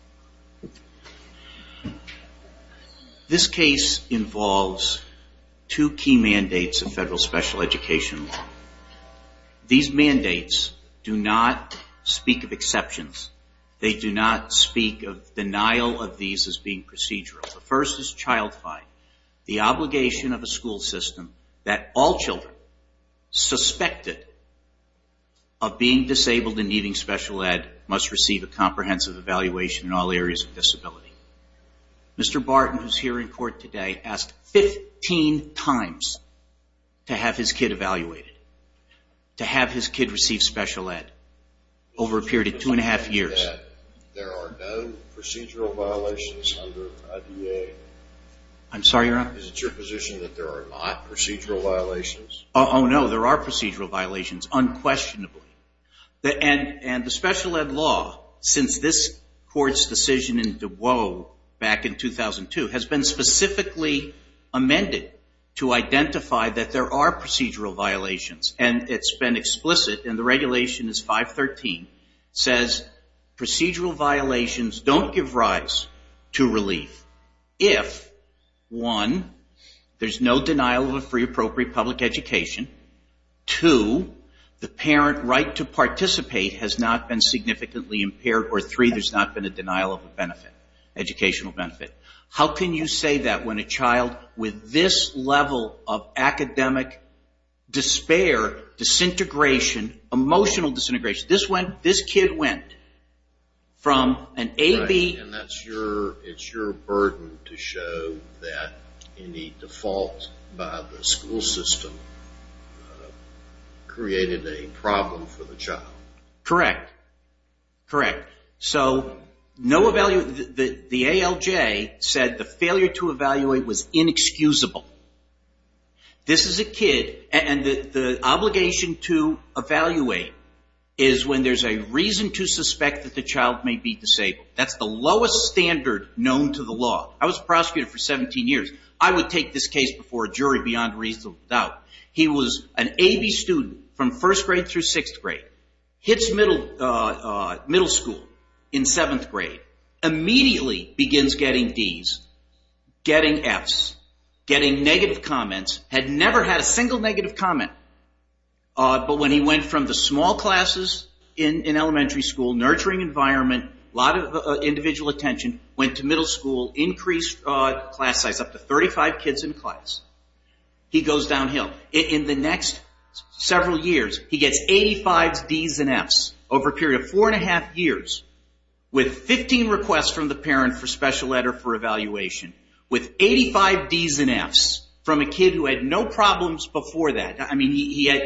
in the Atkinson County district. The case involves two key mandates of federal special education law. These mandates do not speak of exceptions. They do not speak of denial of these as being procedural. The first is child fines, the obligation of the school system that all children suspected of being disabled and needing special education must receive a comprehensive evaluation in all areas of disability. Mr. Barton, who is here in court today, asked 15 times to have his kid evaluated, to have his kid receive special ed over a period of two and a half years. There are no procedural violations under IDA? I'm sorry, Your Honor? Is it your position that there are not procedural violations? Oh, no, there are procedural violations unquestionably. And the special ed law, since this court's decision in Dubois back in 2002, has been specifically amended to identify that there are procedural violations. And it's been explicit, and the regulation is 513, says procedural violations don't give rise to relief if, one, there's no denial of a free, appropriate public education. Two, the parent right to participate has not been significantly impaired. Or three, there's not been a denial of an educational benefit. How can you say that when a child with this level of academic despair, disintegration, emotional disintegration, this kid went from an A, B... created a problem for the child? Correct. Correct. So the ALJ said the failure to evaluate was inexcusable. This is a kid, and the obligation to evaluate is when there's a reason to suspect that the child may be disabled. That's the lowest standard known to the law. I was a prosecutor for 17 years. I would take this case before a jury beyond reasonable doubt. He was an A, B student from first grade through sixth grade. Hits middle school in seventh grade. Immediately begins getting D's, getting F's, getting negative comments. Had never had a single negative comment. But when he went from the small classes in elementary school, nurturing environment, a lot of individual attention, went to middle school, increased class size up to 35 kids in class. He goes downhill. In the next several years, he gets 85 D's and F's over a period of four and a half years with 15 requests from the parent for special letter for evaluation, with 85 D's and F's from a kid who had no problems before that.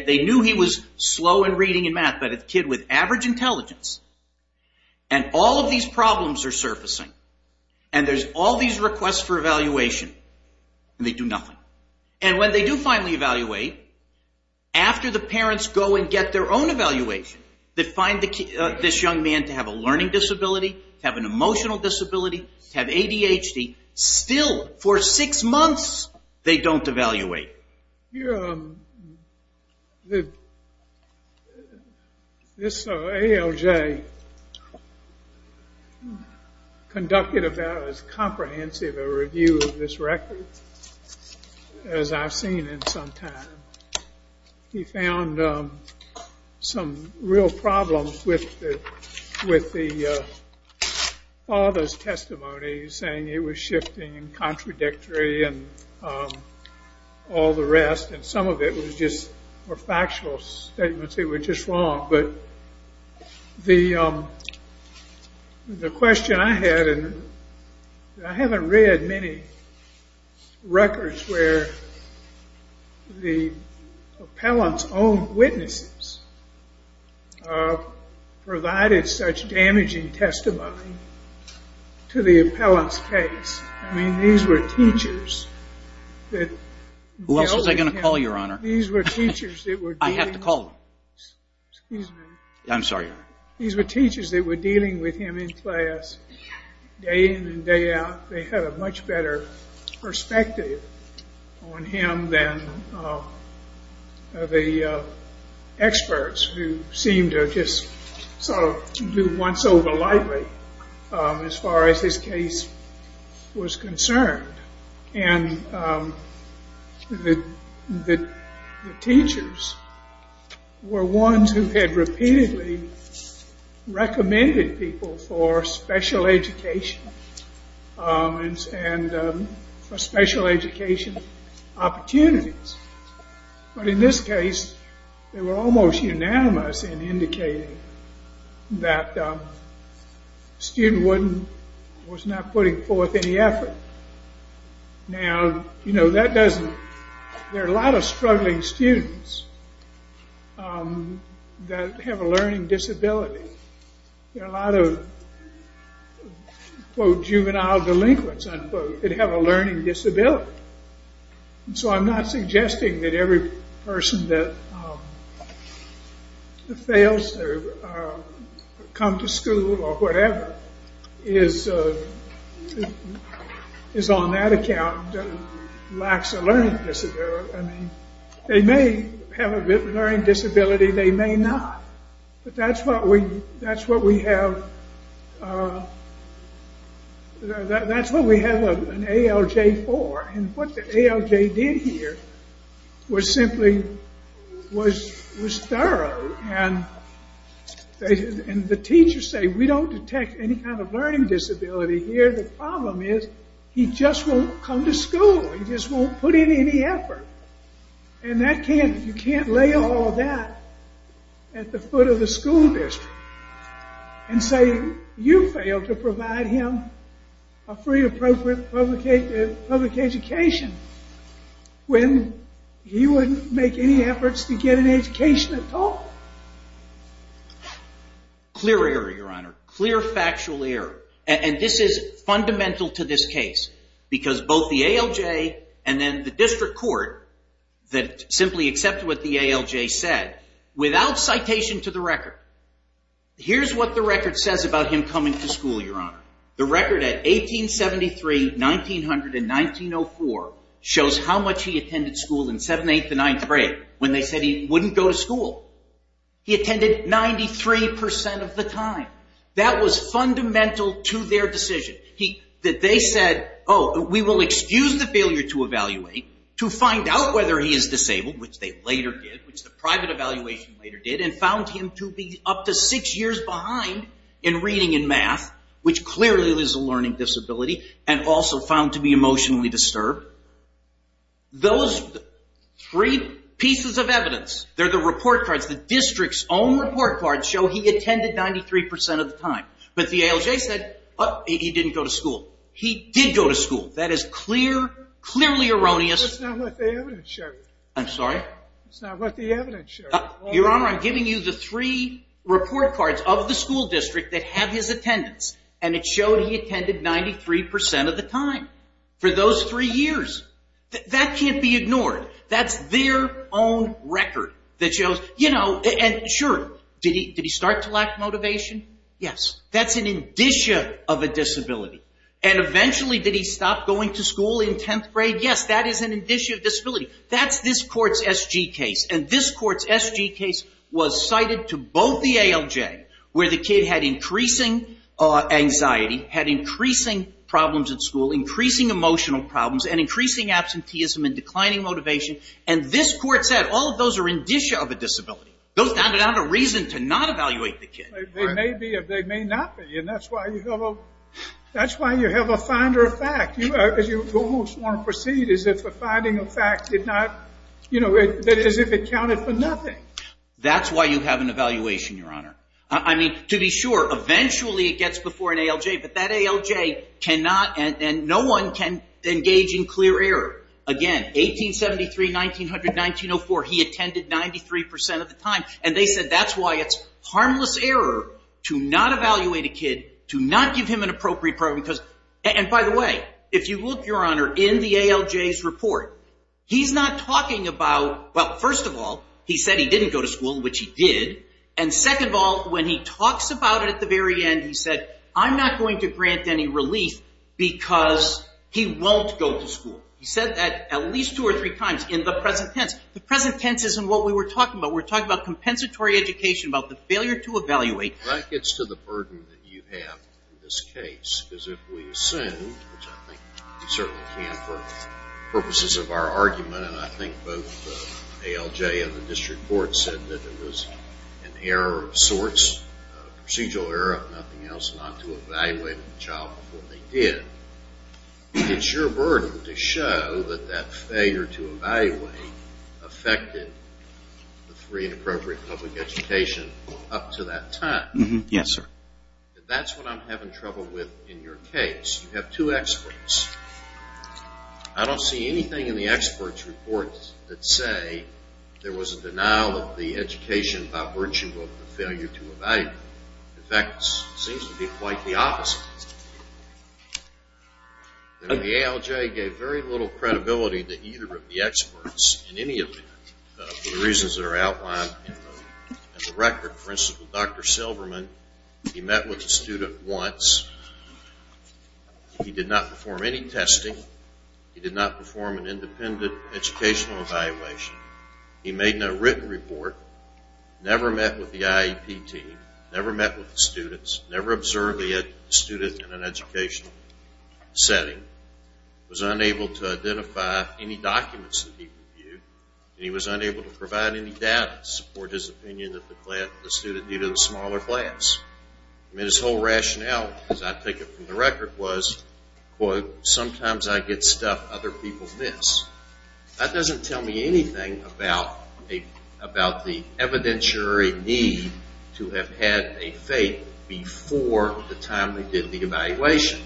They knew he was slow in reading and math, but a kid with average intelligence, and all of these problems are surfacing, and there's all these requests for evaluation, and they do nothing. And when they do finally evaluate, after the parents go and get their own evaluation, they find this young man to have a learning disability, to have an emotional disability, to have ADHD. Still, for six months, they don't evaluate. This ALJ conducted about as comprehensive a review of this record as I've seen in some time. He found some real problems with the father's testimony, saying it was shifting and contradictory and all the rest, and some of it was just factual statements. It was just wrong. But the question I had, and I haven't read many records where the appellant's own witnesses provided such damaging testimony to the appellant's case. I mean, these were teachers. Who else was I going to call, Your Honor? I have to call them. Excuse me. I'm sorry. These were teachers that were dealing with him in class day in and day out. They had a much better perspective on him than the experts who seemed to just sort of do once over lightly as far as this case was concerned. And the teachers were ones who had repeatedly recommended people for special education and special education opportunities. But in this case, they were almost unanimous in indicating that the student was not putting forth any effort. Now, you know, there are a lot of struggling students that have a learning disability. There are a lot of, quote, juvenile delinquents, unquote, that have a learning disability. And so I'm not suggesting that every person that fails or come to school or whatever is on that account that lacks a learning disability. I mean, they may have a learning disability. They may not. But that's what we have an ALJ for. And what the ALJ did here was simply was thorough. And the teachers say, We don't detect any kind of learning disability here. The problem is he just won't come to school. He just won't put in any effort. And you can't lay all that at the foot of the school district and say you failed to provide him a free, appropriate public education when he wouldn't make any efforts to get an education at all. Clear error, Your Honor. Clear, factual error. And this is fundamental to this case because both the ALJ and then the district court that simply accepted what the ALJ said, without citation to the record, here's what the record says about him coming to school, Your Honor. The record at 1873, 1900, and 1904 shows how much he attended school in 7th, 8th, and 9th grade when they said he wouldn't go to school. He attended 93% of the time. That was fundamental to their decision. They said, Oh, we will excuse the failure to evaluate to find out whether he is disabled, which they later did, which the private evaluation later did, and found him to be up to six years behind in reading and math, which clearly is a learning disability, and also found to be emotionally disturbed. Those three pieces of evidence, they're the report cards. The district's own report cards show he attended 93% of the time. But the ALJ said, Oh, he didn't go to school. He did go to school. That is clearly erroneous. That's not what the evidence showed. I'm sorry? That's not what the evidence showed. Your Honor, I'm giving you the three report cards of the school district that have his attendance, and it showed he attended 93% of the time for those three years. That can't be ignored. That's their own record that shows, you know, and sure, did he start to lack motivation? Yes. That's an indicia of a disability. And eventually, did he stop going to school in 10th grade? Yes, that is an indicia of disability. That's this court's SG case, and this court's SG case was cited to both the ALJ, where the kid had increasing anxiety, had increasing problems at school, increasing emotional problems, and increasing absenteeism and declining motivation, and this court said all of those are indicia of a disability. Those are not a reason to not evaluate the kid. They may be or they may not be, and that's why you have a finder of fact. You almost want to proceed as if a finding of fact did not, you know, as if it counted for nothing. That's why you have an evaluation, Your Honor. I mean, to be sure, eventually it gets before an ALJ, but that ALJ cannot and no one can engage in clear error. Again, 1873, 1900, 1904, he attended 93% of the time, and they said that's why it's harmless error to not evaluate a kid, to not give him an appropriate program, because, and by the way, if you look, Your Honor, in the ALJ's report, he's not talking about, well, first of all, he said he didn't go to school, which he did, and second of all, when he talks about it at the very end, he said, I'm not going to grant any relief because he won't go to school. He said that at least two or three times in the present tense. The present tense isn't what we were talking about. We were talking about compensatory education, about the failure to evaluate. That gets to the burden that you have in this case, because if we assume, which I think we certainly can for purposes of our argument, and I think both the ALJ and the district court said that it was an error of sorts, a procedural error, if nothing else, not to evaluate a child before they did. It's your burden to show that that failure to evaluate affected the free and appropriate public education up to that time. Yes, sir. That's what I'm having trouble with in your case. You have two experts. I don't see anything in the experts' report that say there was a denial of the education by virtue of the failure to evaluate. In fact, it seems to be quite the opposite. The ALJ gave very little credibility to either of the experts in any event for the reasons that are outlined in the record. For instance, with Dr. Silverman, he met with the student once. He did not perform any testing. He did not perform an independent educational evaluation. He made a written report, never met with the IEP team, never met with the students, never observed the student in an educational setting, was unable to identify any documents that he reviewed, and he was unable to provide any data to support his opinion that the student due to the smaller class. I mean, his whole rationale, as I take it from the record, was, quote, sometimes I get stuff other people miss. That doesn't tell me anything about the evidentiary need to have had a fate before the time they did the evaluation.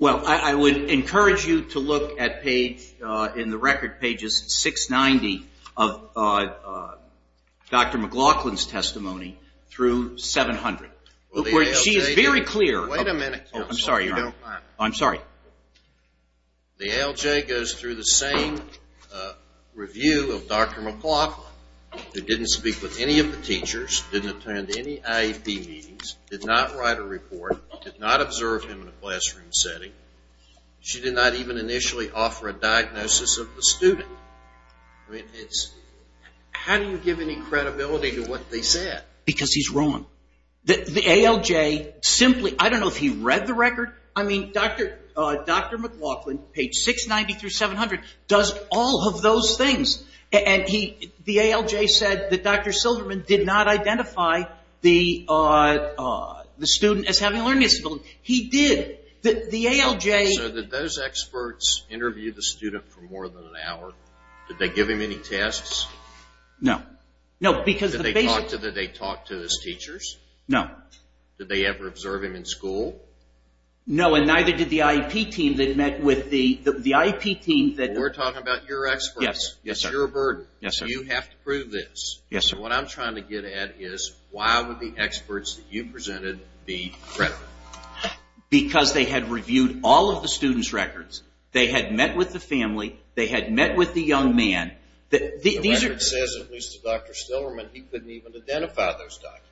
Well, I would encourage you to look at page, in the record, pages 690 of Dr. McLaughlin's testimony through 700. She is very clear. Wait a minute. I'm sorry, Your Honor. I'm sorry. The ALJ goes through the same review of Dr. McLaughlin that didn't speak with any of the teachers, didn't attend any IEP meetings, did not write a report, did not observe him in a classroom setting. She did not even initially offer a diagnosis of the student. How do you give any credibility to what they said? Because he's wrong. The ALJ simply, I don't know if he read the record. I mean, Dr. McLaughlin, page 690 through 700, does all of those things, and the ALJ said that Dr. Silderman did not identify the student as having learning disabilities. He did. The ALJ... So did those experts interview the student for more than an hour? Did they give him any tests? No. No, because the basic... Did they talk to his teachers? No. Did they ever observe him in school? No, and neither did the IEP team that met with the IEP team that... We're talking about your experts. Yes, sir. You're a burden. Yes, sir. You have to prove this. Yes, sir. What I'm trying to get at is, why would the experts that you presented be credible? Because they had reviewed all of the student's records. They had met with the family. They had met with the young man. The record says, at least to Dr. Silderman, he couldn't even identify those documents.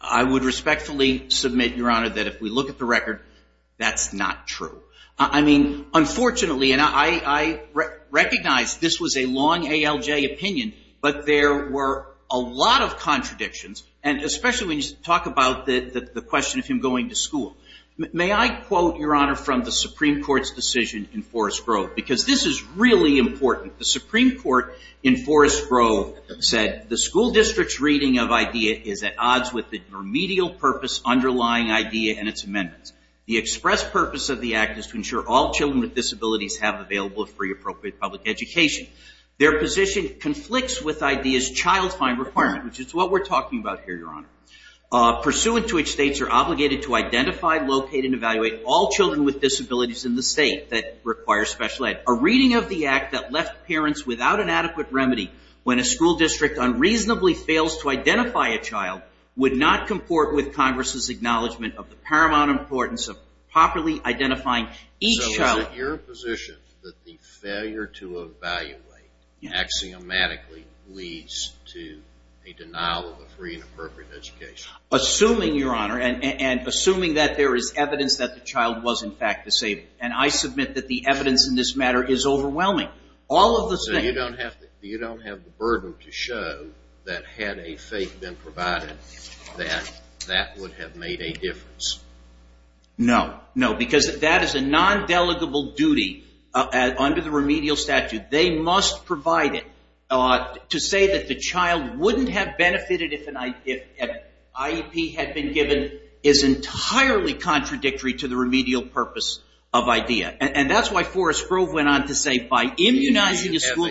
I would respectfully submit, Your Honor, that if we look at the record, that's not true. I mean, unfortunately, and I recognize this was a long ALJ opinion, but there were a lot of contradictions, and especially when you talk about the question of him going to school. May I quote, Your Honor, from the Supreme Court's decision in Forest Grove? Because this is really important. The Supreme Court in Forest Grove said, the school district's reading of IDEA is at odds with the remedial purpose underlying IDEA and its amendments. The express purpose of the act is to ensure all children with disabilities have available free appropriate public education. Their position conflicts with IDEA's child find requirement, which is what we're talking about here, Your Honor, pursuant to which states are obligated to identify, locate, and evaluate all children with disabilities in the state that require special ed. A reading of the act that left parents without an adequate remedy when a school district unreasonably fails to identify a child would not comport with Congress's acknowledgement of the paramount importance of properly identifying each child. So is it your position that the failure to evaluate axiomatically leads to a denial of a free and appropriate education? Assuming, Your Honor, and assuming that there is evidence that the child was in fact disabled, and I submit that the evidence in this matter is overwhelming. So you don't have the burden to show that had a faith been provided that that would have made a difference? No. No. Because that is a non-delegable duty under the remedial statute. They must provide it. To say that the child wouldn't have benefited if IEP had been given is entirely contradictory to the remedial purpose of IDEA. And that's why Forrest Grove went on to say by immunizing a school...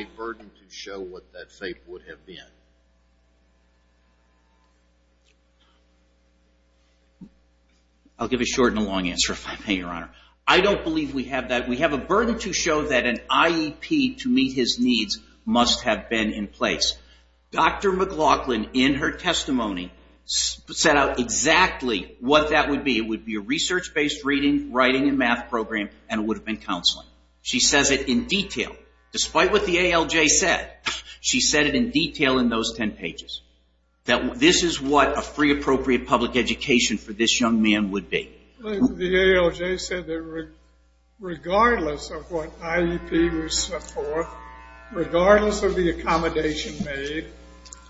I'll give a short and a long answer if I may, Your Honor. I don't believe we have that. We have a burden to show that an IEP to meet his needs must have been in place. Dr. McLaughlin, in her testimony, set out exactly what that would be. It would be a research-based reading, writing, and math program, and it would have been counseling. She says it in detail. Despite what the ALJ said, she said it in detail in those 10 pages. This is what a free, appropriate public education for this young man would be. The ALJ said that regardless of what IEP was set forth, regardless of the accommodation made,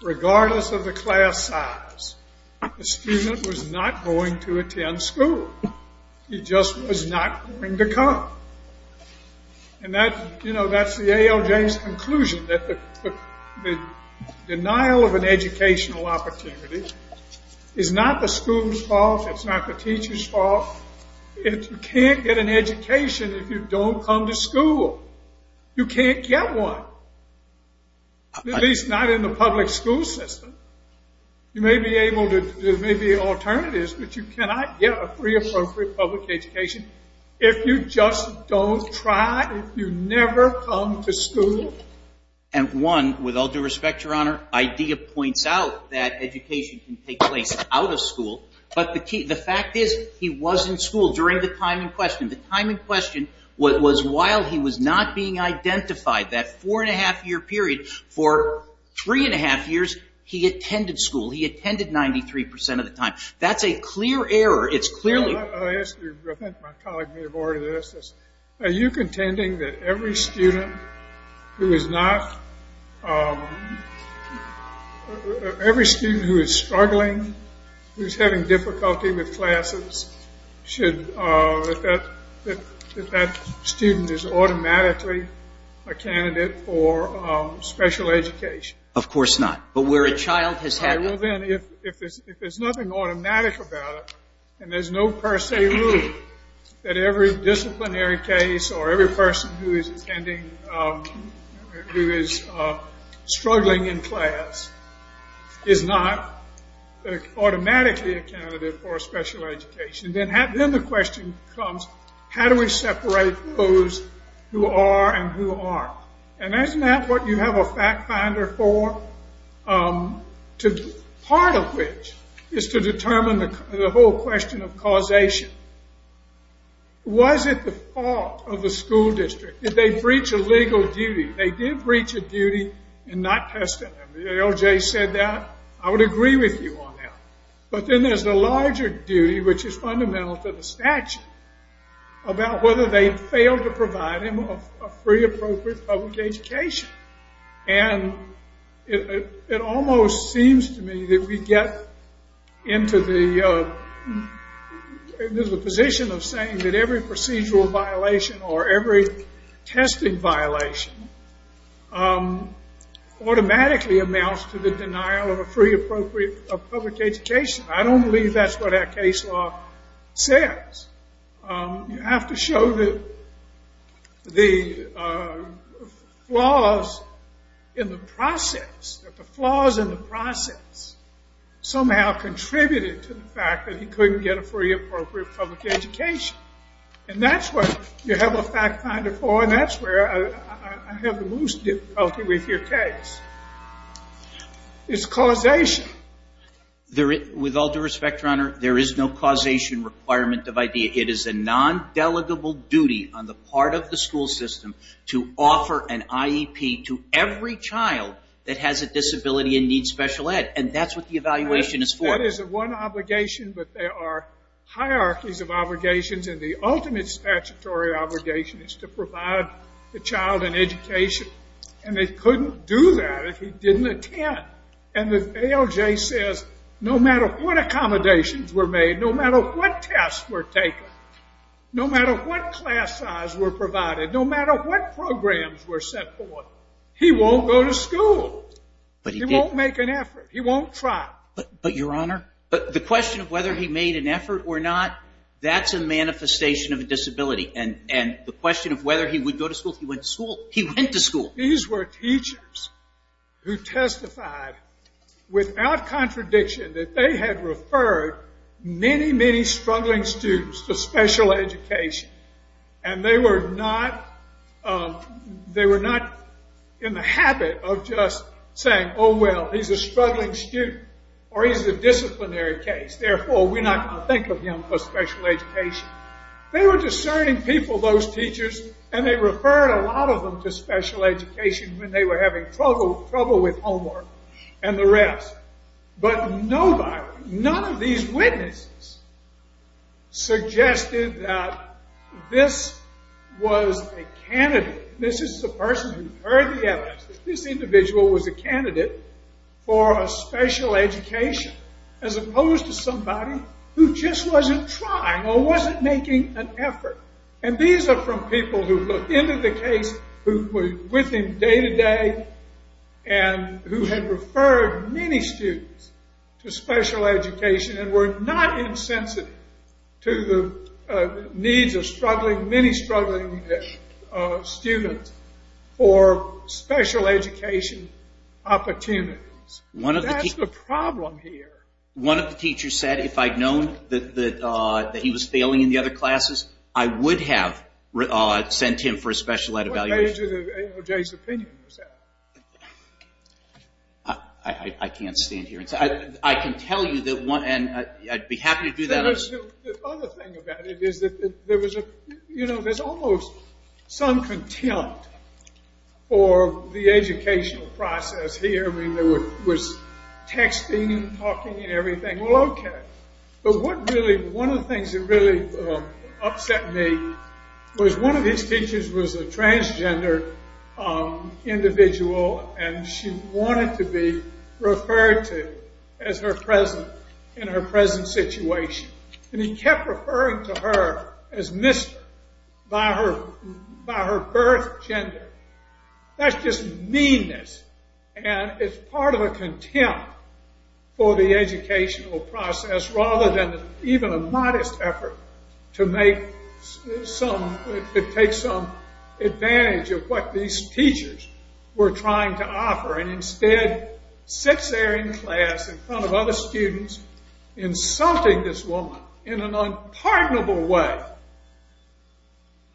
regardless of the class size, the student was not going to attend school. He just was not going to come. And that's the ALJ's conclusion, that the denial of an educational opportunity is not the school's fault, it's not the teacher's fault. You can't get an education if you don't come to school. You can't get one, at least not in the public school system. You may be able to, there may be alternatives, but you cannot get a free, appropriate public education if you just don't try, if you never come to school. And one, with all due respect, Your Honor, IDEA points out that education can take place out of school, but the fact is he was in school during the time in question. The time in question was while he was not being identified, that four-and-a-half-year period. For three-and-a-half years, he attended school. He attended 93% of the time. That's a clear error. I'll ask you, I think my colleague may have already asked this. Are you contending that every student who is struggling, who's having difficulty with classes, should, that that student is automatically a candidate for special education? Of course not. But where a child has had... Well, then, if there's nothing automatic about it, and there's no per se rule that every disciplinary case or every person who is attending, who is struggling in class, is not automatically a candidate for a special education, then the question comes, how do we separate those who are and who aren't? And isn't that what you have a fact finder for? Part of which is to determine the whole question of causation. Was it the fault of the school district? Did they breach a legal duty? They did breach a duty in not testing them. LJ said that. I would agree with you on that. But then there's the larger duty, which is fundamental to the statute, about whether they failed to provide him a free, appropriate public education. And it almost seems to me that we get into the position of saying that every procedural violation or every testing violation automatically amounts to the denial of a free, appropriate public education. I don't believe that's what our case law says. You have to show the flaws in the process, that the flaws in the process somehow contributed to the fact that he couldn't get a free, appropriate public education. And that's what you have a fact finder for, and that's where I have the most difficulty with your case. It's causation. With all due respect, Your Honor, there is no causation requirement of IDEA. It is a non-delegable duty on the part of the school system to offer an IEP to every child that has a disability and needs special ed, and that's what the evaluation is for. That is one obligation, but there are hierarchies of obligations, and the ultimate statutory obligation is to provide the child an education. And they couldn't do that if he didn't attend. And the ALJ says no matter what accommodations were made, no matter what tests were taken, no matter what class size were provided, no matter what programs were set forth, he won't go to school. He won't make an effort. He won't try. But, Your Honor, the question of whether he made an effort or not, that's a manifestation of a disability. And the question of whether he would go to school, he went to school. He went to school. These were teachers who testified without contradiction that they had referred many, many struggling students to special education, and they were not in the habit of just saying, oh, well, he's a struggling student, or he's a disciplinary case, therefore we're not going to think of him as special education. They were discerning people, those teachers, and they referred a lot of them to special education when they were having trouble with homework and the rest. But nobody, none of these witnesses suggested that this was a candidate. This is the person who heard the evidence, that this individual was a candidate for a special education as opposed to somebody who just wasn't trying or wasn't making an effort. And these are from people who looked into the case, who were with him day to day, and who had referred many students to special education and were not insensitive to the needs of struggling, many struggling students for special education opportunities. That's the problem here. One of the teachers said if I'd known that he was failing in the other classes, I would have sent him for a special ed evaluation. What page of AOJ's opinion was that? I can't stand here. I can tell you that one, and I'd be happy to do that. The other thing about it is that there was a, you know, there's almost some contempt for the educational process here. I mean, there was texting and talking and everything. Well, okay. But what really, one of the things that really upset me was one of these teachers was a transgender individual and she wanted to be referred to as her present in her present situation. And he kept referring to her as mister by her birth gender. That's just meanness. And it's part of a contempt for the educational process rather than even a modest effort to make some, to take some advantage of what these teachers were trying to offer and instead sits there in class in front of other students insulting this woman in an unpardonable way.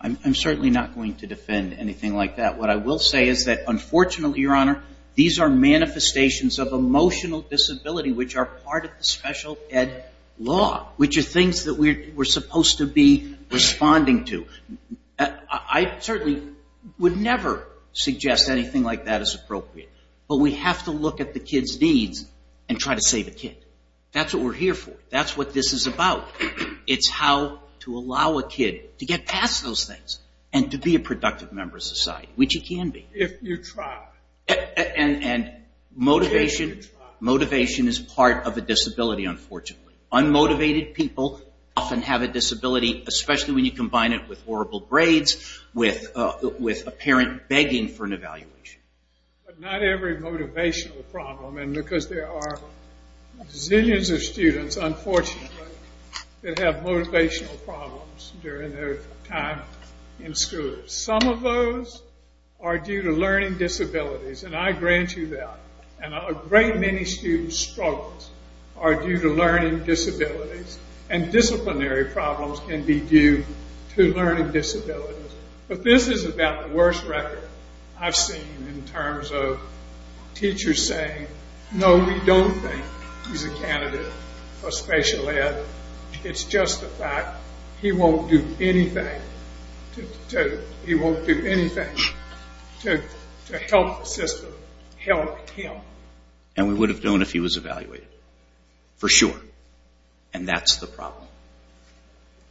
I'm certainly not going to defend anything like that. What I will say is that unfortunately, Your Honor, these are manifestations of emotional disability which are part of the special ed law, which are things that we're supposed to be responding to. I certainly would never suggest anything like that as appropriate. But we have to look at the kids' needs and try to save a kid. That's what we're here for. That's what this is about. It's how to allow a kid to get past those things and to be a productive member of society, which he can be. If you try. And motivation is part of a disability, unfortunately. Unmotivated people often have a disability, especially when you combine it with horrible grades, with a parent begging for an evaluation. But not every motivational problem, and because there are zillions of students, unfortunately, that have motivational problems during their time in school. Some of those are due to learning disabilities, and I grant you that. And a great many students' struggles are due to learning disabilities. And disciplinary problems can be due to learning disabilities. But this is about the worst record I've seen in terms of teachers saying, No, we don't think he's a candidate for special ed. It's just the fact he won't do anything to help the system, help him. And we would have done if he was evaluated, for sure. And that's the problem,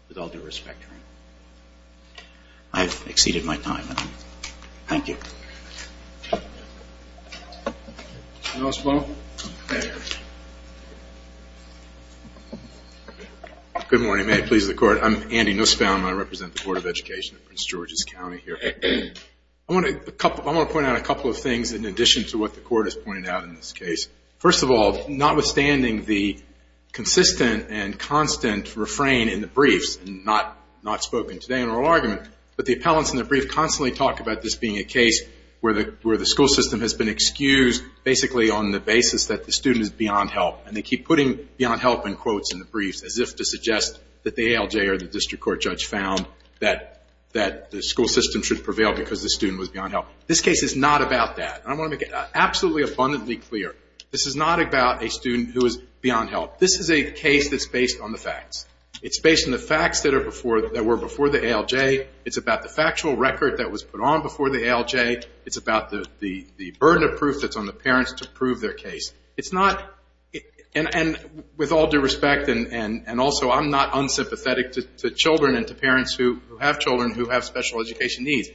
with all due respect to him. I've exceeded my time. Thank you. Anything else, Bo? Good morning. May it please the Court. I'm Andy Nussbaum, and I represent the Court of Education in Prince George's County here. I want to point out a couple of things in addition to what the Court has pointed out in this case. First of all, notwithstanding the consistent and constant refrain in the briefs, not spoken today in oral argument, but the appellants in the brief constantly talk about this being a case where the school system has been excused basically on the basis that the student is beyond help. And they keep putting beyond help in quotes in the briefs as if to suggest that the ALJ or the district court judge found that the school system should prevail because the student was beyond help. This case is not about that. I want to make it absolutely abundantly clear. This is not about a student who is beyond help. This is a case that's based on the facts. It's based on the facts that were before the ALJ. It's about the factual record that was put on before the ALJ. It's about the burden of proof that's on the parents to prove their case. And with all due respect, and also I'm not unsympathetic to children and to parents who have children who have special education needs,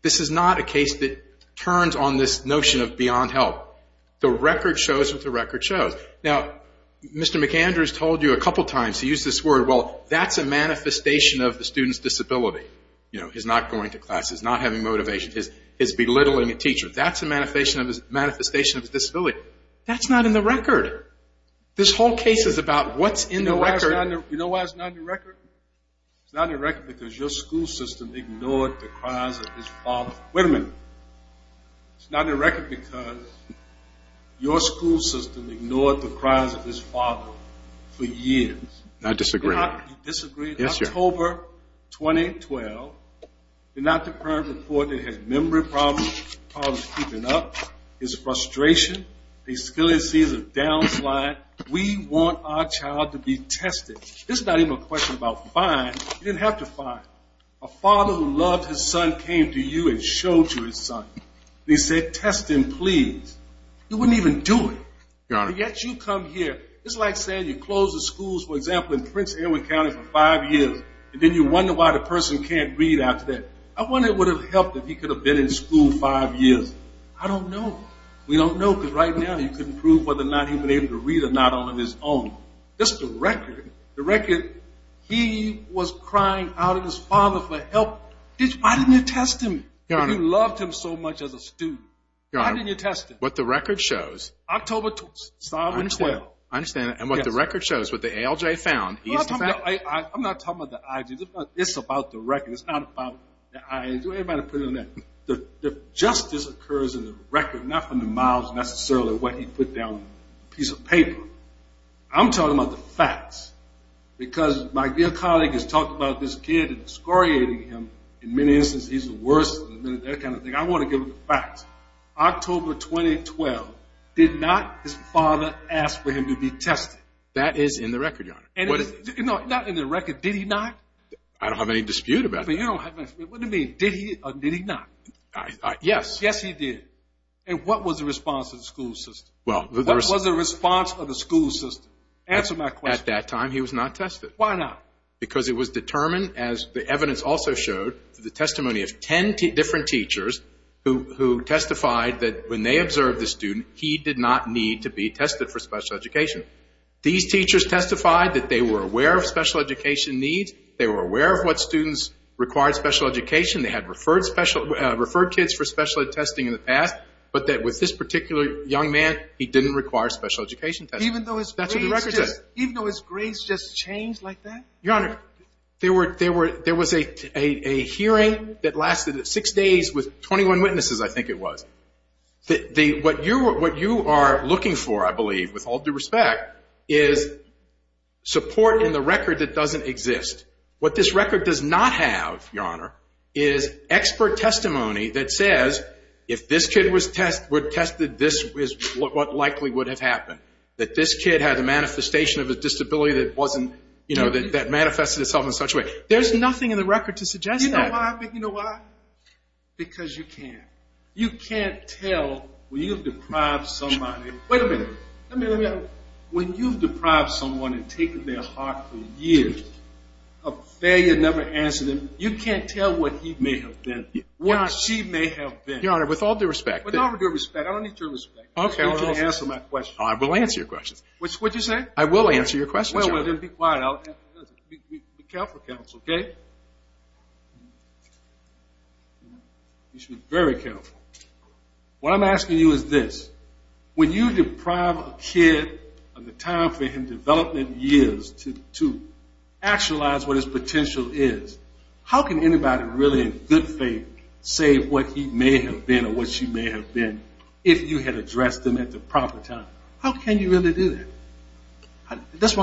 this is not a case that turns on this notion of beyond help. The record shows what the record shows. Now, Mr. McAndrews told you a couple times, he used this word, well, that's a manifestation of the student's disability. You know, he's not going to class, he's not having motivation, he's belittling a teacher. That's a manifestation of his disability. That's not in the record. This whole case is about what's in the record. You know why it's not in the record? It's not in the record because your school system ignored the cries of his father. Wait a minute. It's not in the record because your school system ignored the cries of his father for years. I disagree. You disagree? Yes, sir. October 2012, the not-the-parent report that has memory problems, problems keeping up, his frustration, he still sees a down slide. We want our child to be tested. This is not even a question about fines. You didn't have to fine him. A father who loved his son came to you and showed you his son. He said, test him, please. You wouldn't even do it. Yet you come here. It's like saying you closed the schools, for example, in Prince Edward County for five years, and then you wonder why the person can't read after that. I wonder what would have helped if he could have been in school five years. I don't know. We don't know because right now you couldn't prove whether or not he would have been able to read or not on his own. That's the record. The record, he was crying out at his father for help. Why didn't you test him? You loved him so much as a student. Why didn't you test him? What the record shows. October 2012. I understand that. And what the record shows, what the ALJ found. I'm not talking about the IG. It's about the record. It's not about the IG. Everybody put it on there. The justice occurs in the record, not from the mouths necessarily, what he put down on a piece of paper. I'm talking about the facts. Because my dear colleague has talked about this kid and excoriating him. In many instances, he's the worst and that kind of thing. I want to give him the facts. October 2012, did not his father ask for him to be tested? That is in the record, Your Honor. Not in the record. Did he not? I don't have any dispute about that. What do you mean, did he or did he not? Yes. Yes, he did. And what was the response of the school system? What was the response of the school system? Answer my question. At that time, he was not tested. Why not? Because it was determined, as the evidence also showed, the testimony of 10 different teachers who testified that when they observed the student, he did not need to be tested for special education. These teachers testified that they were aware of special education needs. They were aware of what students required special education. They had referred kids for special ed testing in the past, but that with this particular young man, he didn't require special education testing. Even though his grades just changed like that? Your Honor, there was a hearing that lasted six days with 21 witnesses, I think it was. What you are looking for, I believe, with all due respect, is support in the record that doesn't exist. What this record does not have, Your Honor, is expert testimony that says, if this kid were tested, this is what likely would have happened, that this kid had a manifestation of a disability that manifested itself in such a way. There's nothing in the record to suggest that. You know why? Because you can't. You can't tell when you've deprived somebody. Wait a minute. When you've deprived someone and taken their heart for years of failure, never answering them, you can't tell what he may have been, what she may have been. Your Honor, with all due respect. With all due respect. I don't need your respect. You can answer my questions. I will answer your questions. What did you say? I will answer your questions, Your Honor. Well, then be quiet. Be careful, counsel, okay? You should be very careful. What I'm asking you is this. When you deprive a kid of the time for him, development years, to actualize what his potential is, how can anybody really in good faith say what he may have been or what she may have been if you had addressed them at the proper time? How can you really do that?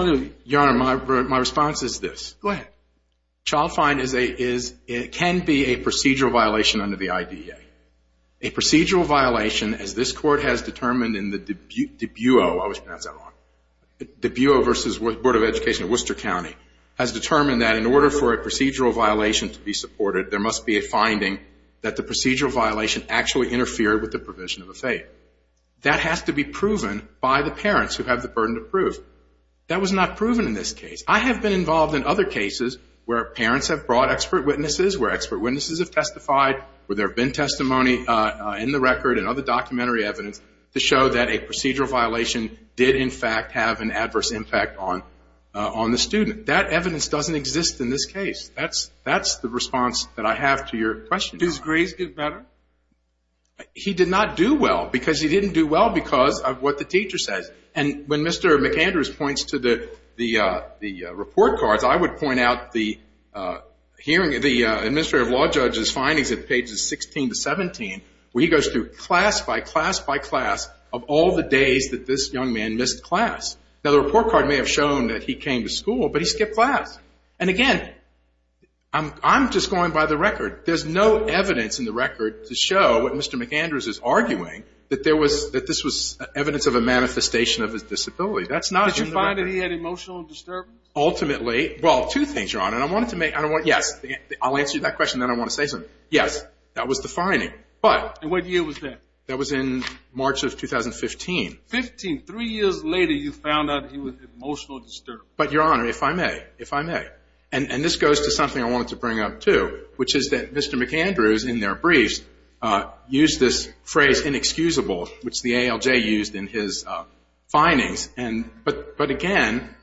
Your Honor, my response is this. Go ahead. Child fine can be a procedural violation under the IDA. A procedural violation, as this Court has determined in the Debuo, I always pronounce that wrong, Debuo v. Board of Education of Worcester County, has determined that in order for a procedural violation to be supported, there must be a finding that the procedural violation actually interfered with the provision of a fate. That has to be proven by the parents who have the burden of proof. That was not proven in this case. I have been involved in other cases where parents have brought expert witnesses, where expert witnesses have testified, where there have been testimony in the record and other documentary evidence to show that a procedural violation did, in fact, have an adverse impact on the student. That evidence doesn't exist in this case. That's the response that I have to your question. Did his grades get better? He did not do well because he didn't do well because of what the teacher says. And when Mr. McAndrews points to the report cards, I would point out the hearing of the Administrative Law Judge's findings at pages 16 to 17, where he goes through class by class by class of all the days that this young man missed class. Now, the report card may have shown that he came to school, but he skipped class. And, again, I'm just going by the record. There's no evidence in the record to show what Mr. McAndrews is arguing, that this was evidence of a manifestation of his disability. That's not in the record. Did you find that he had emotional disturbance? Ultimately, well, two things, Your Honor. Yes, I'll answer that question, then I want to say something. Yes, that was the finding. And what year was that? That was in March of 2015. Three years later, you found out he was emotional disturbed. But, Your Honor, if I may, if I may. And this goes to something I wanted to bring up, too, which is that Mr. McAndrews in their briefs used this phrase inexcusable, which the ALJ used in his findings. But, again,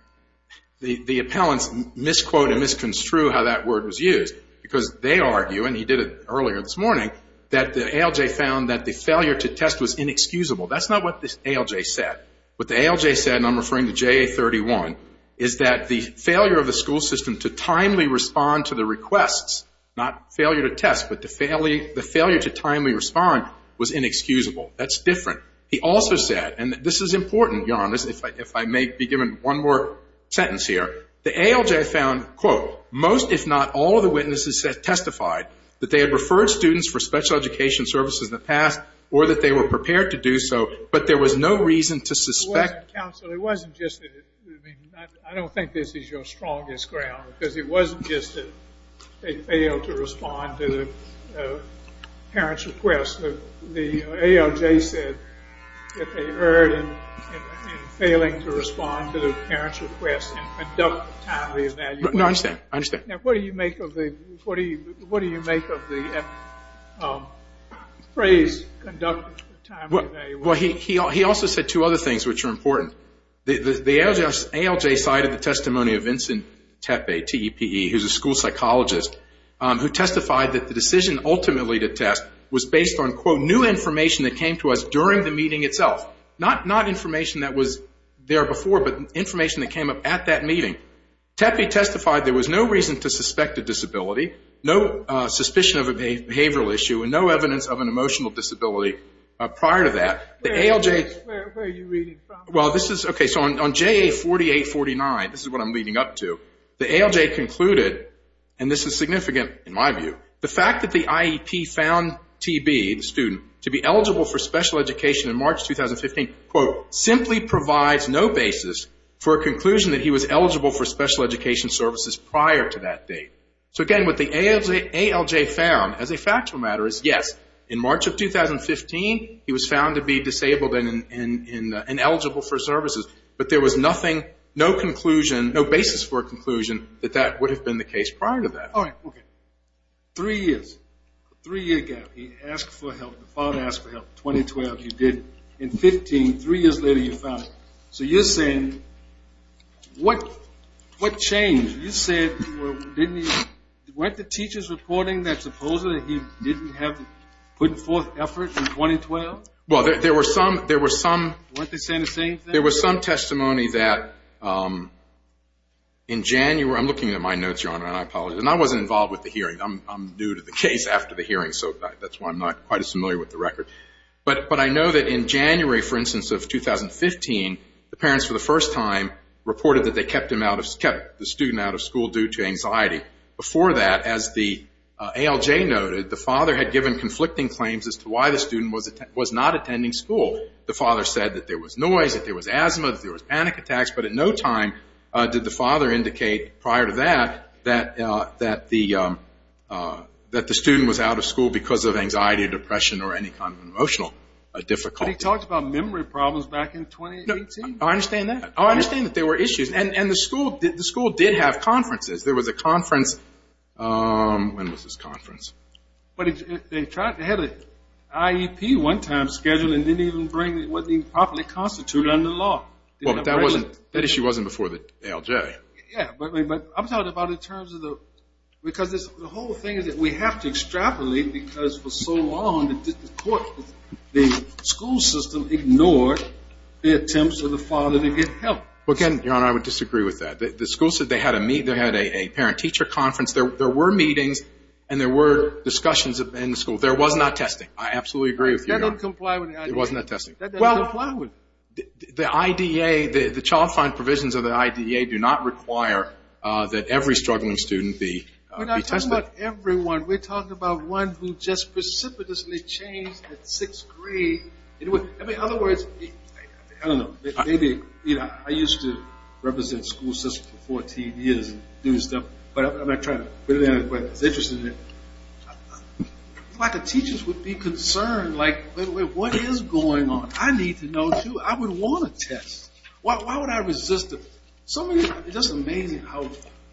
the appellants misquote and misconstrue how that word was used because they argue, and he did it earlier this morning, that the ALJ found that the failure to test was inexcusable. That's not what the ALJ said. What the ALJ said, and I'm referring to JA-31, is that the failure of the school system to timely respond to the requests, not failure to test, but the failure to timely respond, was inexcusable. That's different. He also said, and this is important, Your Honor, if I may be given one more sentence here, the ALJ found, quote, most if not all of the witnesses testified that they had referred students for special education services in the past or that they were prepared to do so, but there was no reason to suspect. Counsel, it wasn't just that. I don't think this is your strongest ground because it wasn't just that they failed to respond to the parents' request. The ALJ said that they erred in failing to respond to the parents' request and conduct timely evaluation. No, I understand. I understand. Now, what do you make of the phrase conduct timely evaluation? Well, he also said two other things which are important. The ALJ cited the testimony of Vincent Tepe, T-E-P-E, who's a school psychologist, who testified that the decision ultimately to test was based on, quote, new information that came to us during the meeting itself, not information that was there before, but information that came up at that meeting. Tepe testified there was no reason to suspect a disability, no suspicion of a behavioral issue, and no evidence of an emotional disability prior to that. Where are you reading from? Well, this is, okay, so on JA4849, this is what I'm leading up to, the ALJ concluded, and this is significant in my view, the fact that the IEP found TB, the student, to be eligible for special education in March 2015, quote, simply provides no basis for a conclusion that he was eligible for special education services prior to that date. So, again, what the ALJ found as a factual matter is, yes, in March of 2015, he was found to be disabled and eligible for services, but there was nothing, no conclusion, no basis for a conclusion that that would have been the case prior to that. All right, okay. Three years. Three years ago, he asked for help. The father asked for help. In 2012, he did. In 2015, three years later, he found it. So you're saying, what changed? You said, didn't he, weren't the teachers reporting that supposedly he didn't have, putting forth effort in 2012? Well, there were some, there were some. Weren't they saying the same thing? There was some testimony that in January, I'm looking at my notes, Your Honor, and I apologize, and I wasn't involved with the hearing. I'm new to the case after the hearing, so that's why I'm not quite as familiar with the record. But I know that in January, for instance, of 2015, the parents for the first time reported that they kept the student out of school due to anxiety. Before that, as the ALJ noted, the father had given conflicting claims as to why the student was not attending school. The father said that there was noise, that there was asthma, that there was panic attacks. But at no time did the father indicate prior to that that the student was out of school because of anxiety or depression or any kind of emotional difficulty. But he talked about memory problems back in 2018. No, I understand that. I understand that there were issues. And the school did have conferences. There was a conference. When was this conference? They had an IEP one time scheduled and didn't even properly constitute it under the law. Well, but that issue wasn't before the ALJ. Yeah, but I'm talking about in terms of the whole thing that we have to extrapolate because for so long the school system ignored the attempts of the father to get help. Well, again, Your Honor, I would disagree with that. The school said they had a parent-teacher conference. There were meetings and there were discussions in the school. There was not testing. I absolutely agree with you, Your Honor. That doesn't comply with the IDEA. It was not testing. That doesn't comply with it. Well, the IDEA, the child fund provisions of the IDEA do not require that every struggling student be tested. We're not talking about everyone. We're talking about one who just precipitously changed at sixth grade. In other words, I don't know, maybe I used to represent school systems for 14 years and do stuff, but I'm not trying to put it in a way that's interesting. A lot of teachers would be concerned, like, wait a minute, what is going on? I need to know, too. I would want a test. Why would I resist it? It's just amazing how,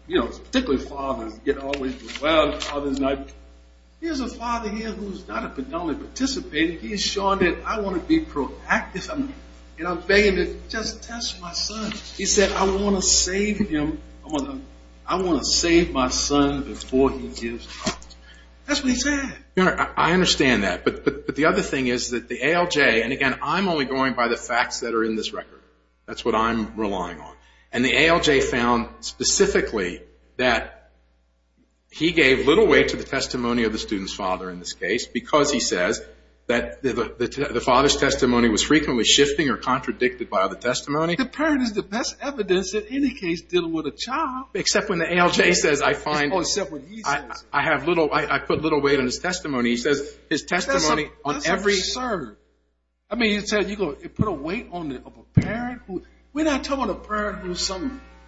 you know, particularly fathers get overwhelmed. Here's a father here who's not a predominantly participating. He's showing that I want to be proactive and I'm begging to just test my son. He said, I want to save him. I want to save my son before he gives. That's what he said. Your Honor, I understand that. But the other thing is that the ALJ, and, again, I'm only going by the facts that are in this record. That's what I'm relying on. And the ALJ found specifically that he gave little weight to the testimony of the student's father in this case because he says that the father's testimony was frequently shifting or contradicted by the testimony. The parent is the best evidence in any case dealing with a child. Except when the ALJ says, I put little weight on his testimony. He says his testimony on every. That's absurd. I mean, you put a weight on it of a parent? We're not talking about a parent who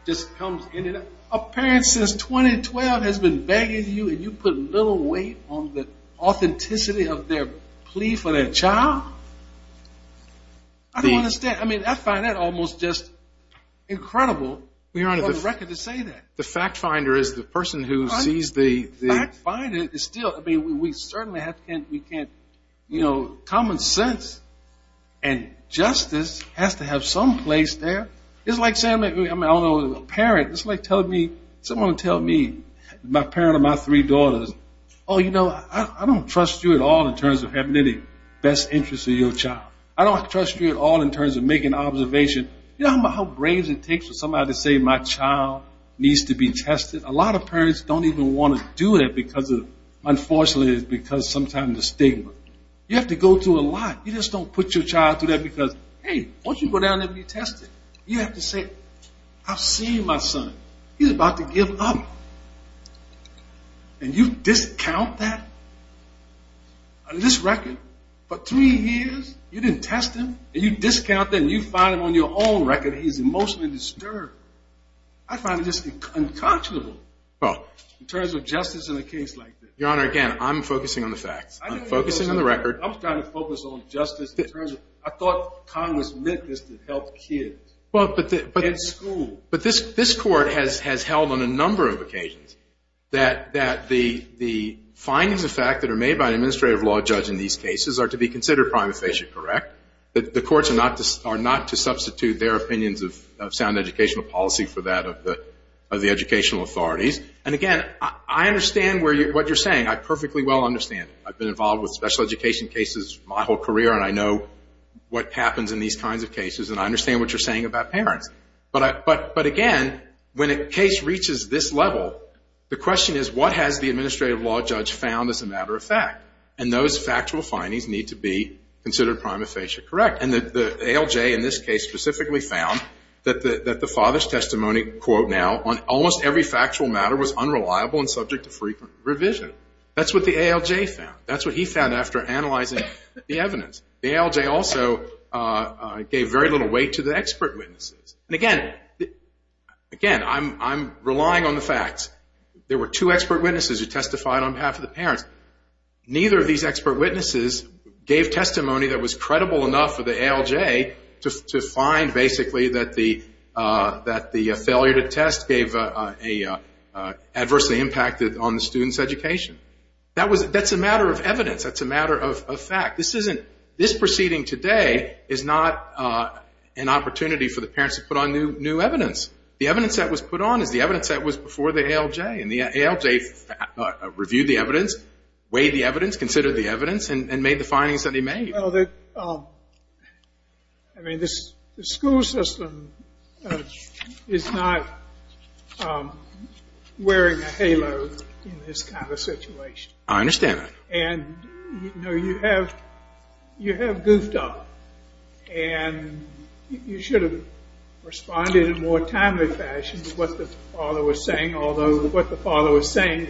just comes in and out. A parent since 2012 has been begging you and you put little weight on the authenticity of their plea for their child? I don't understand. I mean, I find that almost just incredible on the record to say that. Your Honor, the fact finder is the person who sees the... The fact finder is still... I mean, we certainly can't... Common sense and justice has to have some place there. It's like saying... I don't know, a parent. It's like telling me... Someone tell me, my parent or my three daughters, oh, you know, I don't trust you at all in terms of having any best interest in your child. I don't trust you at all in terms of making an observation. You know how brave it takes for somebody to say my child needs to be tested? A lot of parents don't even want to do that because of, unfortunately, because sometimes of stigma. You have to go through a lot. You just don't put your child through that because, hey, why don't you go down there and be tested? You have to say, I've seen my son. He's about to give up. And you discount that? On this record, for three years, you didn't test him, and you discount that, and you find him on your own record, he's emotionally disturbed. I find this unconscionable in terms of justice in a case like this. Your Honor, again, I'm focusing on the facts. I'm focusing on the record. I'm trying to focus on justice in terms of... I thought Congress meant this to help kids in school. But this Court has held on a number of occasions that the findings of fact that are made by an administrative law judge in these cases are to be considered prima facie correct, that the courts are not to substitute their opinions of sound educational policy for that of the educational authorities. And, again, I understand what you're saying. I perfectly well understand it. I've been involved with special education cases my whole career, and I know what happens in these kinds of cases, and I understand what you're saying about parents. But, again, when a case reaches this level, the question is what has the administrative law judge found as a matter of fact? And those factual findings need to be considered prima facie correct. And the ALJ in this case specifically found that the father's testimony, quote now, on almost every factual matter was unreliable and subject to frequent revision. That's what the ALJ found. That's what he found after analyzing the evidence. The ALJ also gave very little weight to the expert witnesses. And, again, I'm relying on the facts. There were two expert witnesses who testified on behalf of the parents. Neither of these expert witnesses gave testimony that was credible enough for the ALJ to find basically that the failure to test gave an adverse impact on the student's education. That's a matter of evidence. That's a matter of fact. This proceeding today is not an opportunity for the parents to put on new evidence. The evidence that was put on is the evidence that was before the ALJ, and the ALJ reviewed the evidence, weighed the evidence, considered the evidence, and made the findings that he made. Well, I mean, the school system is not wearing a halo in this kind of situation. I understand that. And, you know, you have goofed up. And you should have responded in a more timely fashion to what the father was saying, although what the father was saying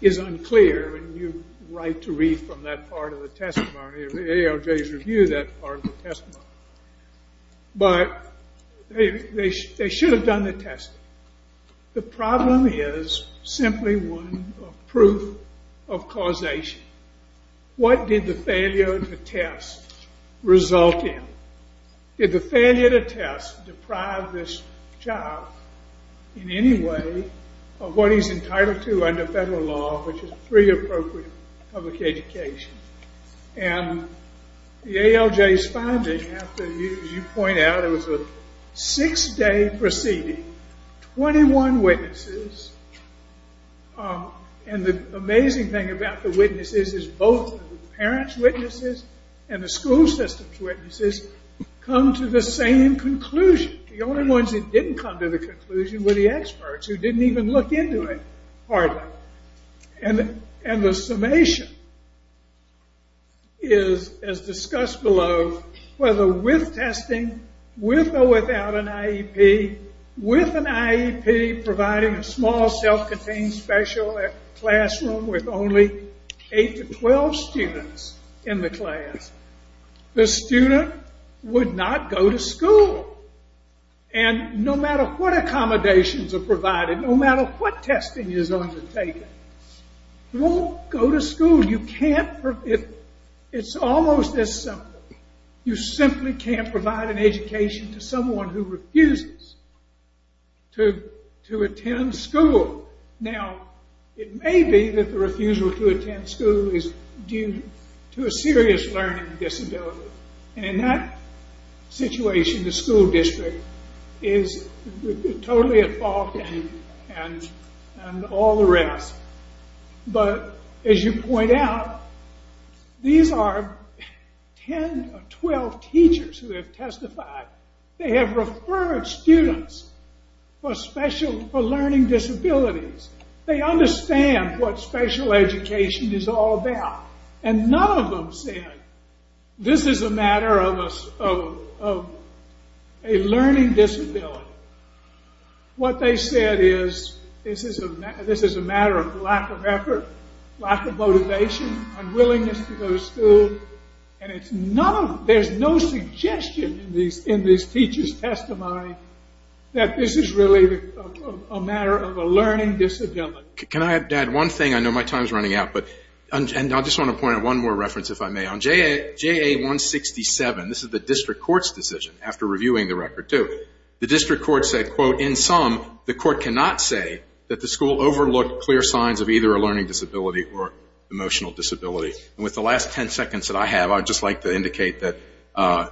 is unclear, and you're right to read from that part of the testimony, or the ALJ's review of that part of the testimony. But they should have done the testing. The problem is simply one of proof of causation. What did the failure to test result in? Did the failure to test deprive this child in any way of what he's entitled to under federal law, which is three appropriate public educations? And the ALJ's finding, as you point out, it was a six-day proceeding. Twenty-one witnesses. And the amazing thing about the witnesses is both the parents' witnesses and the school system's witnesses come to the same conclusion. The only ones that didn't come to the conclusion were the experts, who didn't even look into it hardly. And the summation is, as discussed below, whether with testing, with or without an IEP, with an IEP providing a small self-contained special classroom with only eight to twelve students in the class, the student would not go to school. And no matter what accommodations are provided, no matter what testing is undertaken, he won't go to school. It's almost as simple. You simply can't provide an education to someone who refuses to attend school. Now, it may be that the refusal to attend school is due to a serious learning disability. And in that situation, the school district is totally at fault and all the rest. But, as you point out, these are ten or twelve teachers who have testified. They have referred students for learning disabilities. They understand what special education is all about. And none of them said, this is a matter of a learning disability. What they said is, this is a matter of lack of effort, lack of motivation, unwillingness to go to school. And there's no suggestion in these teachers' testimony that this is really a matter of a learning disability. Can I add one thing? I know my time is running out. And I just want to point out one more reference, if I may. On JA-167, this is the district court's decision after reviewing the record, too. The district court said, quote, in sum, the court cannot say that the school overlooked clear signs of either a learning disability or emotional disability. And with the last ten seconds that I have, I'd just like to indicate that I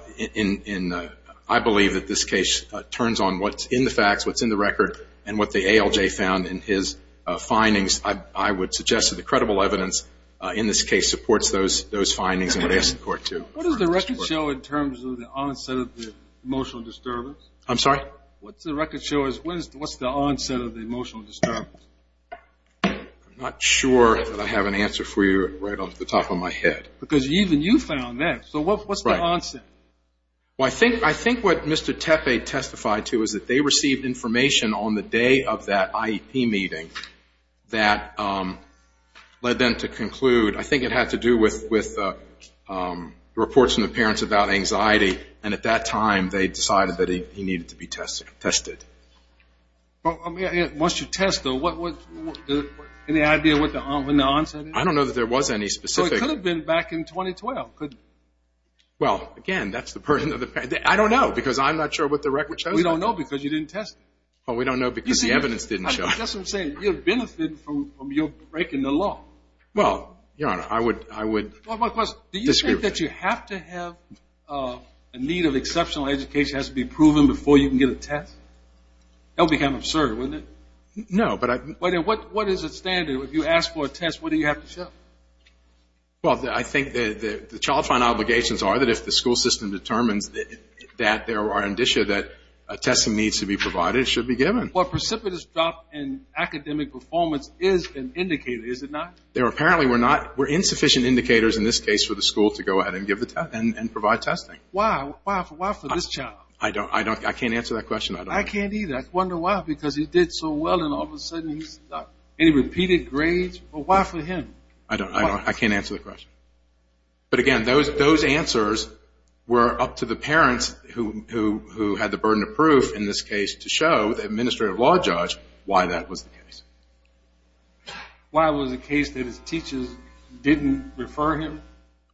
believe that this case turns on what's in the facts, what's in the record, and what the ALJ found in his findings. I would suggest that the credible evidence in this case supports those findings and what they support, too. What does the record show in terms of the onset of the emotional disturbance? I'm sorry? What does the record show as what's the onset of the emotional disturbance? I'm not sure that I have an answer for you right off the top of my head. Because even you found that. So what's the onset? Well, I think what Mr. Tepe testified to is that they received information on the day of that IEP meeting that led them to conclude. I think it had to do with reports from the parents about anxiety. And at that time, they decided that he needed to be tested. Once you test, though, any idea what the onset is? I don't know that there was any specific. It could have been back in 2012. Well, again, that's the burden of the parent. I don't know because I'm not sure what the record shows. We don't know because you didn't test it. Well, we don't know because the evidence didn't show it. I guess I'm saying you'll benefit from your breaking the law. Well, I would disagree with that. Do you think that you have to have a need of exceptional education that has to be proven before you can get a test? That would become absurd, wouldn't it? No. What is the standard? If you ask for a test, what do you have to show? Well, I think the child find obligations are that if the school system determines that there are indicia that testing needs to be provided, it should be given. Well, precipitous drop in academic performance is an indicator, is it not? Apparently we're not. We're insufficient indicators in this case for the school to go ahead and provide testing. Why? Why for this child? I can't answer that question. I can't either. I wonder why because he did so well and all of a sudden he's stuck. Any repeated grades? Well, why for him? I don't know. I can't answer the question. But, again, those answers were up to the parents who had the burden of proof, in this case, to show the administrative law judge why that was the case. Why was it the case that his teachers didn't refer him?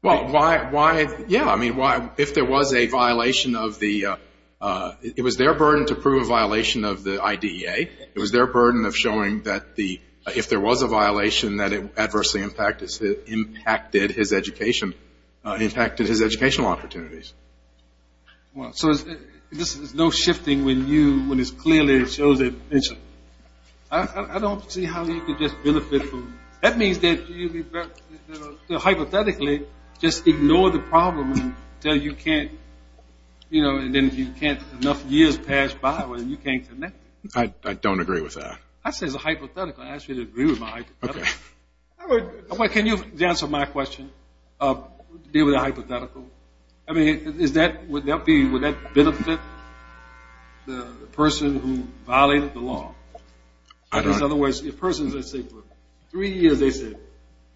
Well, why? Yeah, I mean, if there was a violation of the ‑‑ it was their burden to prove a violation of the IDEA. It was their burden of showing that if there was a violation that it adversely impacted his education, impacted his educational opportunities. Well, so there's no shifting when you, when it's clear that it shows it. I don't see how you could just benefit from that. That means that, hypothetically, just ignore the problem until you can't, you know, and then if you can't, enough years pass by when you can't connect. I don't agree with that. I'd say it's a hypothetical. I'd ask you to agree with my hypothetical. Okay. Can you answer my question, deal with a hypothetical? I mean, is that, would that be, would that benefit the person who violated the law? I don't know. Because, otherwise, the person, let's say, for three years, they said,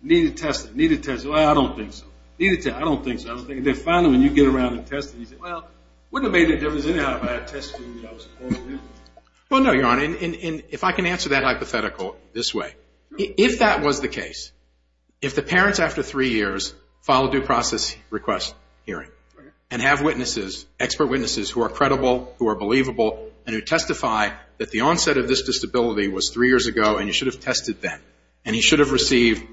needed testing, needed testing. Well, I don't think so. Needed testing. I don't think so. I don't think. And then, finally, when you get around to testing, you say, well, wouldn't it have made a difference, anyhow, if I had tested and I was appointed? Well, no, Your Honor. If I can answer that hypothetical this way, if that was the case, if the parents, after three years, file a due process request hearing and have witnesses, expert witnesses, who are credible, who are believable, and who testify that the onset of this disability was three years ago and you should have tested then, and you should have received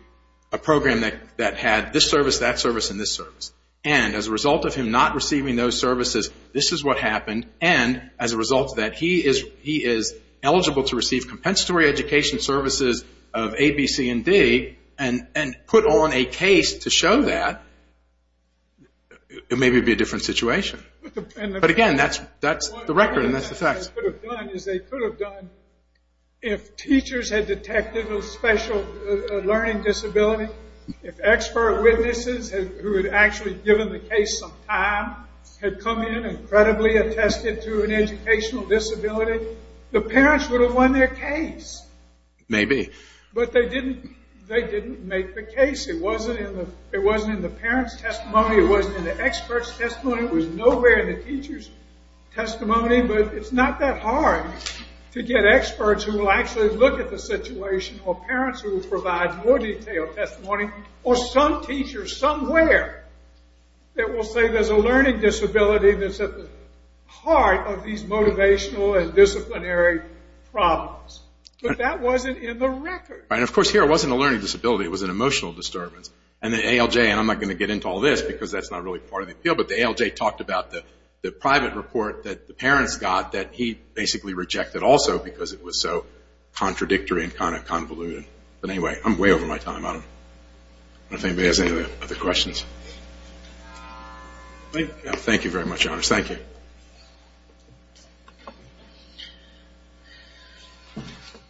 a program that had this service, that service, and this service, and as a result of him not receiving those services, this is what happened, and as a result of that, he is eligible to receive compensatory education services of A, B, C, and D, and put on a case to show that, it may be a different situation. But, again, that's the record, and that's the facts. What they could have done is they could have done, if teachers had detected a special learning disability, if expert witnesses who had actually given the case some time had come in and credibly attested to an educational disability, the parents would have won their case. Maybe. But they didn't make the case. It wasn't in the parents' testimony. It wasn't in the experts' testimony. It was nowhere in the teachers' testimony, but it's not that hard to get experts who will actually look at the situation or parents who will provide more detailed testimony or some teachers somewhere that will say there's a learning disability that's at the heart of these motivational and disciplinary problems. But that wasn't in the record. And, of course, here it wasn't a learning disability. It was an emotional disturbance, and the ALJ, and I'm not going to get into all this because that's not really part of the appeal, but the ALJ talked about the private report that the parents got that he basically rejected also because it was so contradictory and kind of convoluted. But anyway, I'm way over my time. I don't know if anybody has any other questions. Thank you very much, Your Honor. Thank you.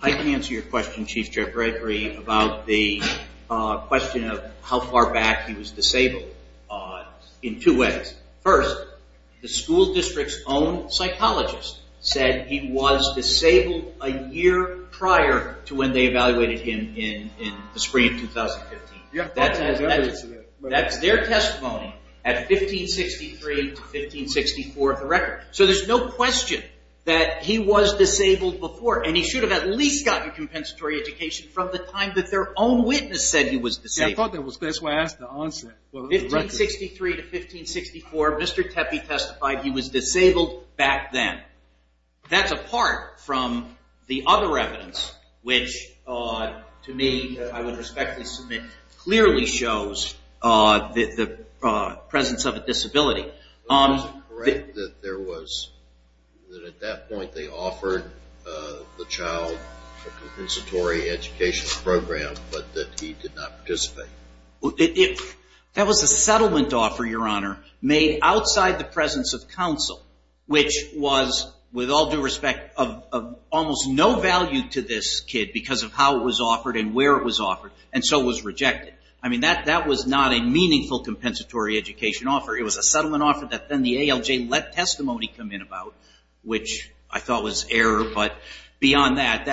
I can answer your question, Chief Jeff Gregory, about the question of how far back he was disabled in two ways. First, the school district's own psychologist said he was disabled a year prior to when they evaluated him in the spring of 2015. That's their testimony at 1563 to 1564 of the record. So there's no question that he was disabled before, and he should have at least gotten compensatory education from the time that their own witness said he was disabled. 1563 to 1564, Mr. Tepe testified he was disabled back then. That's apart from the other evidence, which to me, I would respectfully submit, clearly shows the presence of a disability. Is it correct that at that point they offered the child a compensatory education program, but that he did not participate? That was a settlement offer, Your Honor, made outside the presence of counsel, which was, with all due respect, of almost no value to this kid because of how it was offered and where it was offered, and so was rejected. I mean, that was not a meaningful compensatory education offer. It was a settlement offer that then the ALJ let testimony come in about, which I thought was error, but beyond that,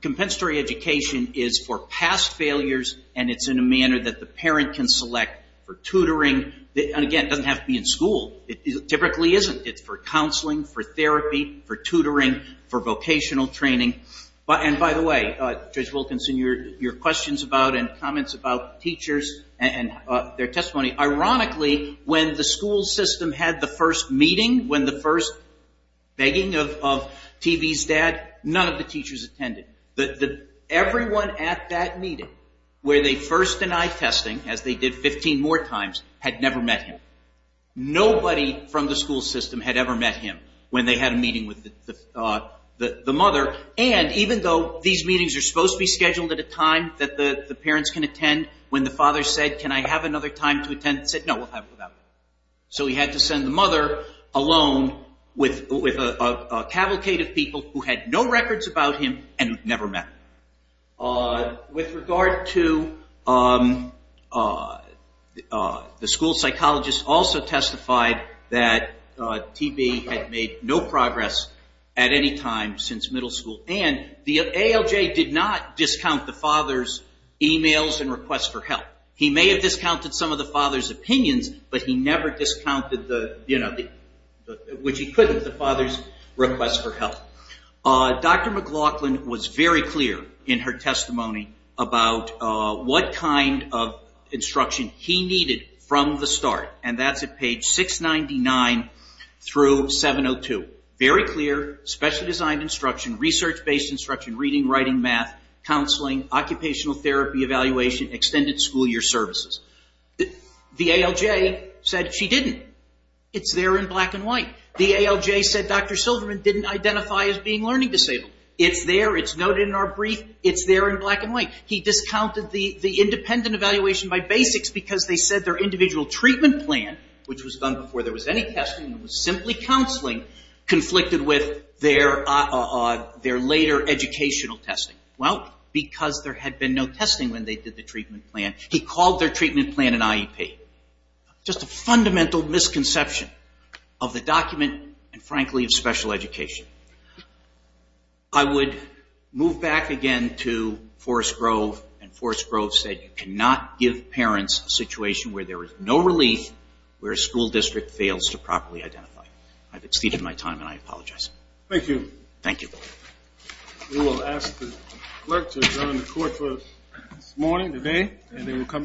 compensatory education is for past failures, and it's in a manner that the parent can select for tutoring. And again, it doesn't have to be in school. It typically isn't. It's for counseling, for therapy, for tutoring, for vocational training. And by the way, Judge Wilkinson, your questions about and comments about teachers and their testimony, ironically, when the school system had the first meeting, when the first begging of TB's dad, none of the teachers attended. Everyone at that meeting where they first denied testing, as they did 15 more times, had never met him. Nobody from the school system had ever met him when they had a meeting with the mother, and even though these meetings are supposed to be scheduled at a time that the parents can attend, when the father said, can I have another time to attend, he said, no, we'll have it without you. So he had to send the mother alone with a cavalcade of people who had no records about him and who'd never met him. With regard to the school psychologist also testified that TB had made no progress at any time since middle school, and the ALJ did not discount the father's emails and requests for help. He may have discounted some of the father's opinions, but he never discounted, which he couldn't, the father's requests for help. Dr. McLaughlin was very clear in her testimony about what kind of instruction he needed from the start, and that's at page 699 through 702. Very clear, specially designed instruction, research-based instruction, reading, writing, math, counseling, occupational therapy evaluation, extended school year services. The ALJ said she didn't. It's there in black and white. The ALJ said Dr. Silverman didn't identify as being learning disabled. It's there, it's noted in our brief, it's there in black and white. He discounted the independent evaluation by basics because they said their individual treatment plan, which was done before there was any testing, was simply counseling, conflicted with their later educational testing. Well, because there had been no testing when they did the treatment plan, he called their treatment plan an IEP. Just a fundamental misconception of the document, and frankly, of special education. I would move back again to Forrest Grove, and Forrest Grove said you cannot give parents a situation where there is no relief, where a school district fails to properly identify. I've exceeded my time, and I apologize. Thank you. Thank you. We will ask the clerk to adjourn the court for this morning, today, and then we'll come down and recount.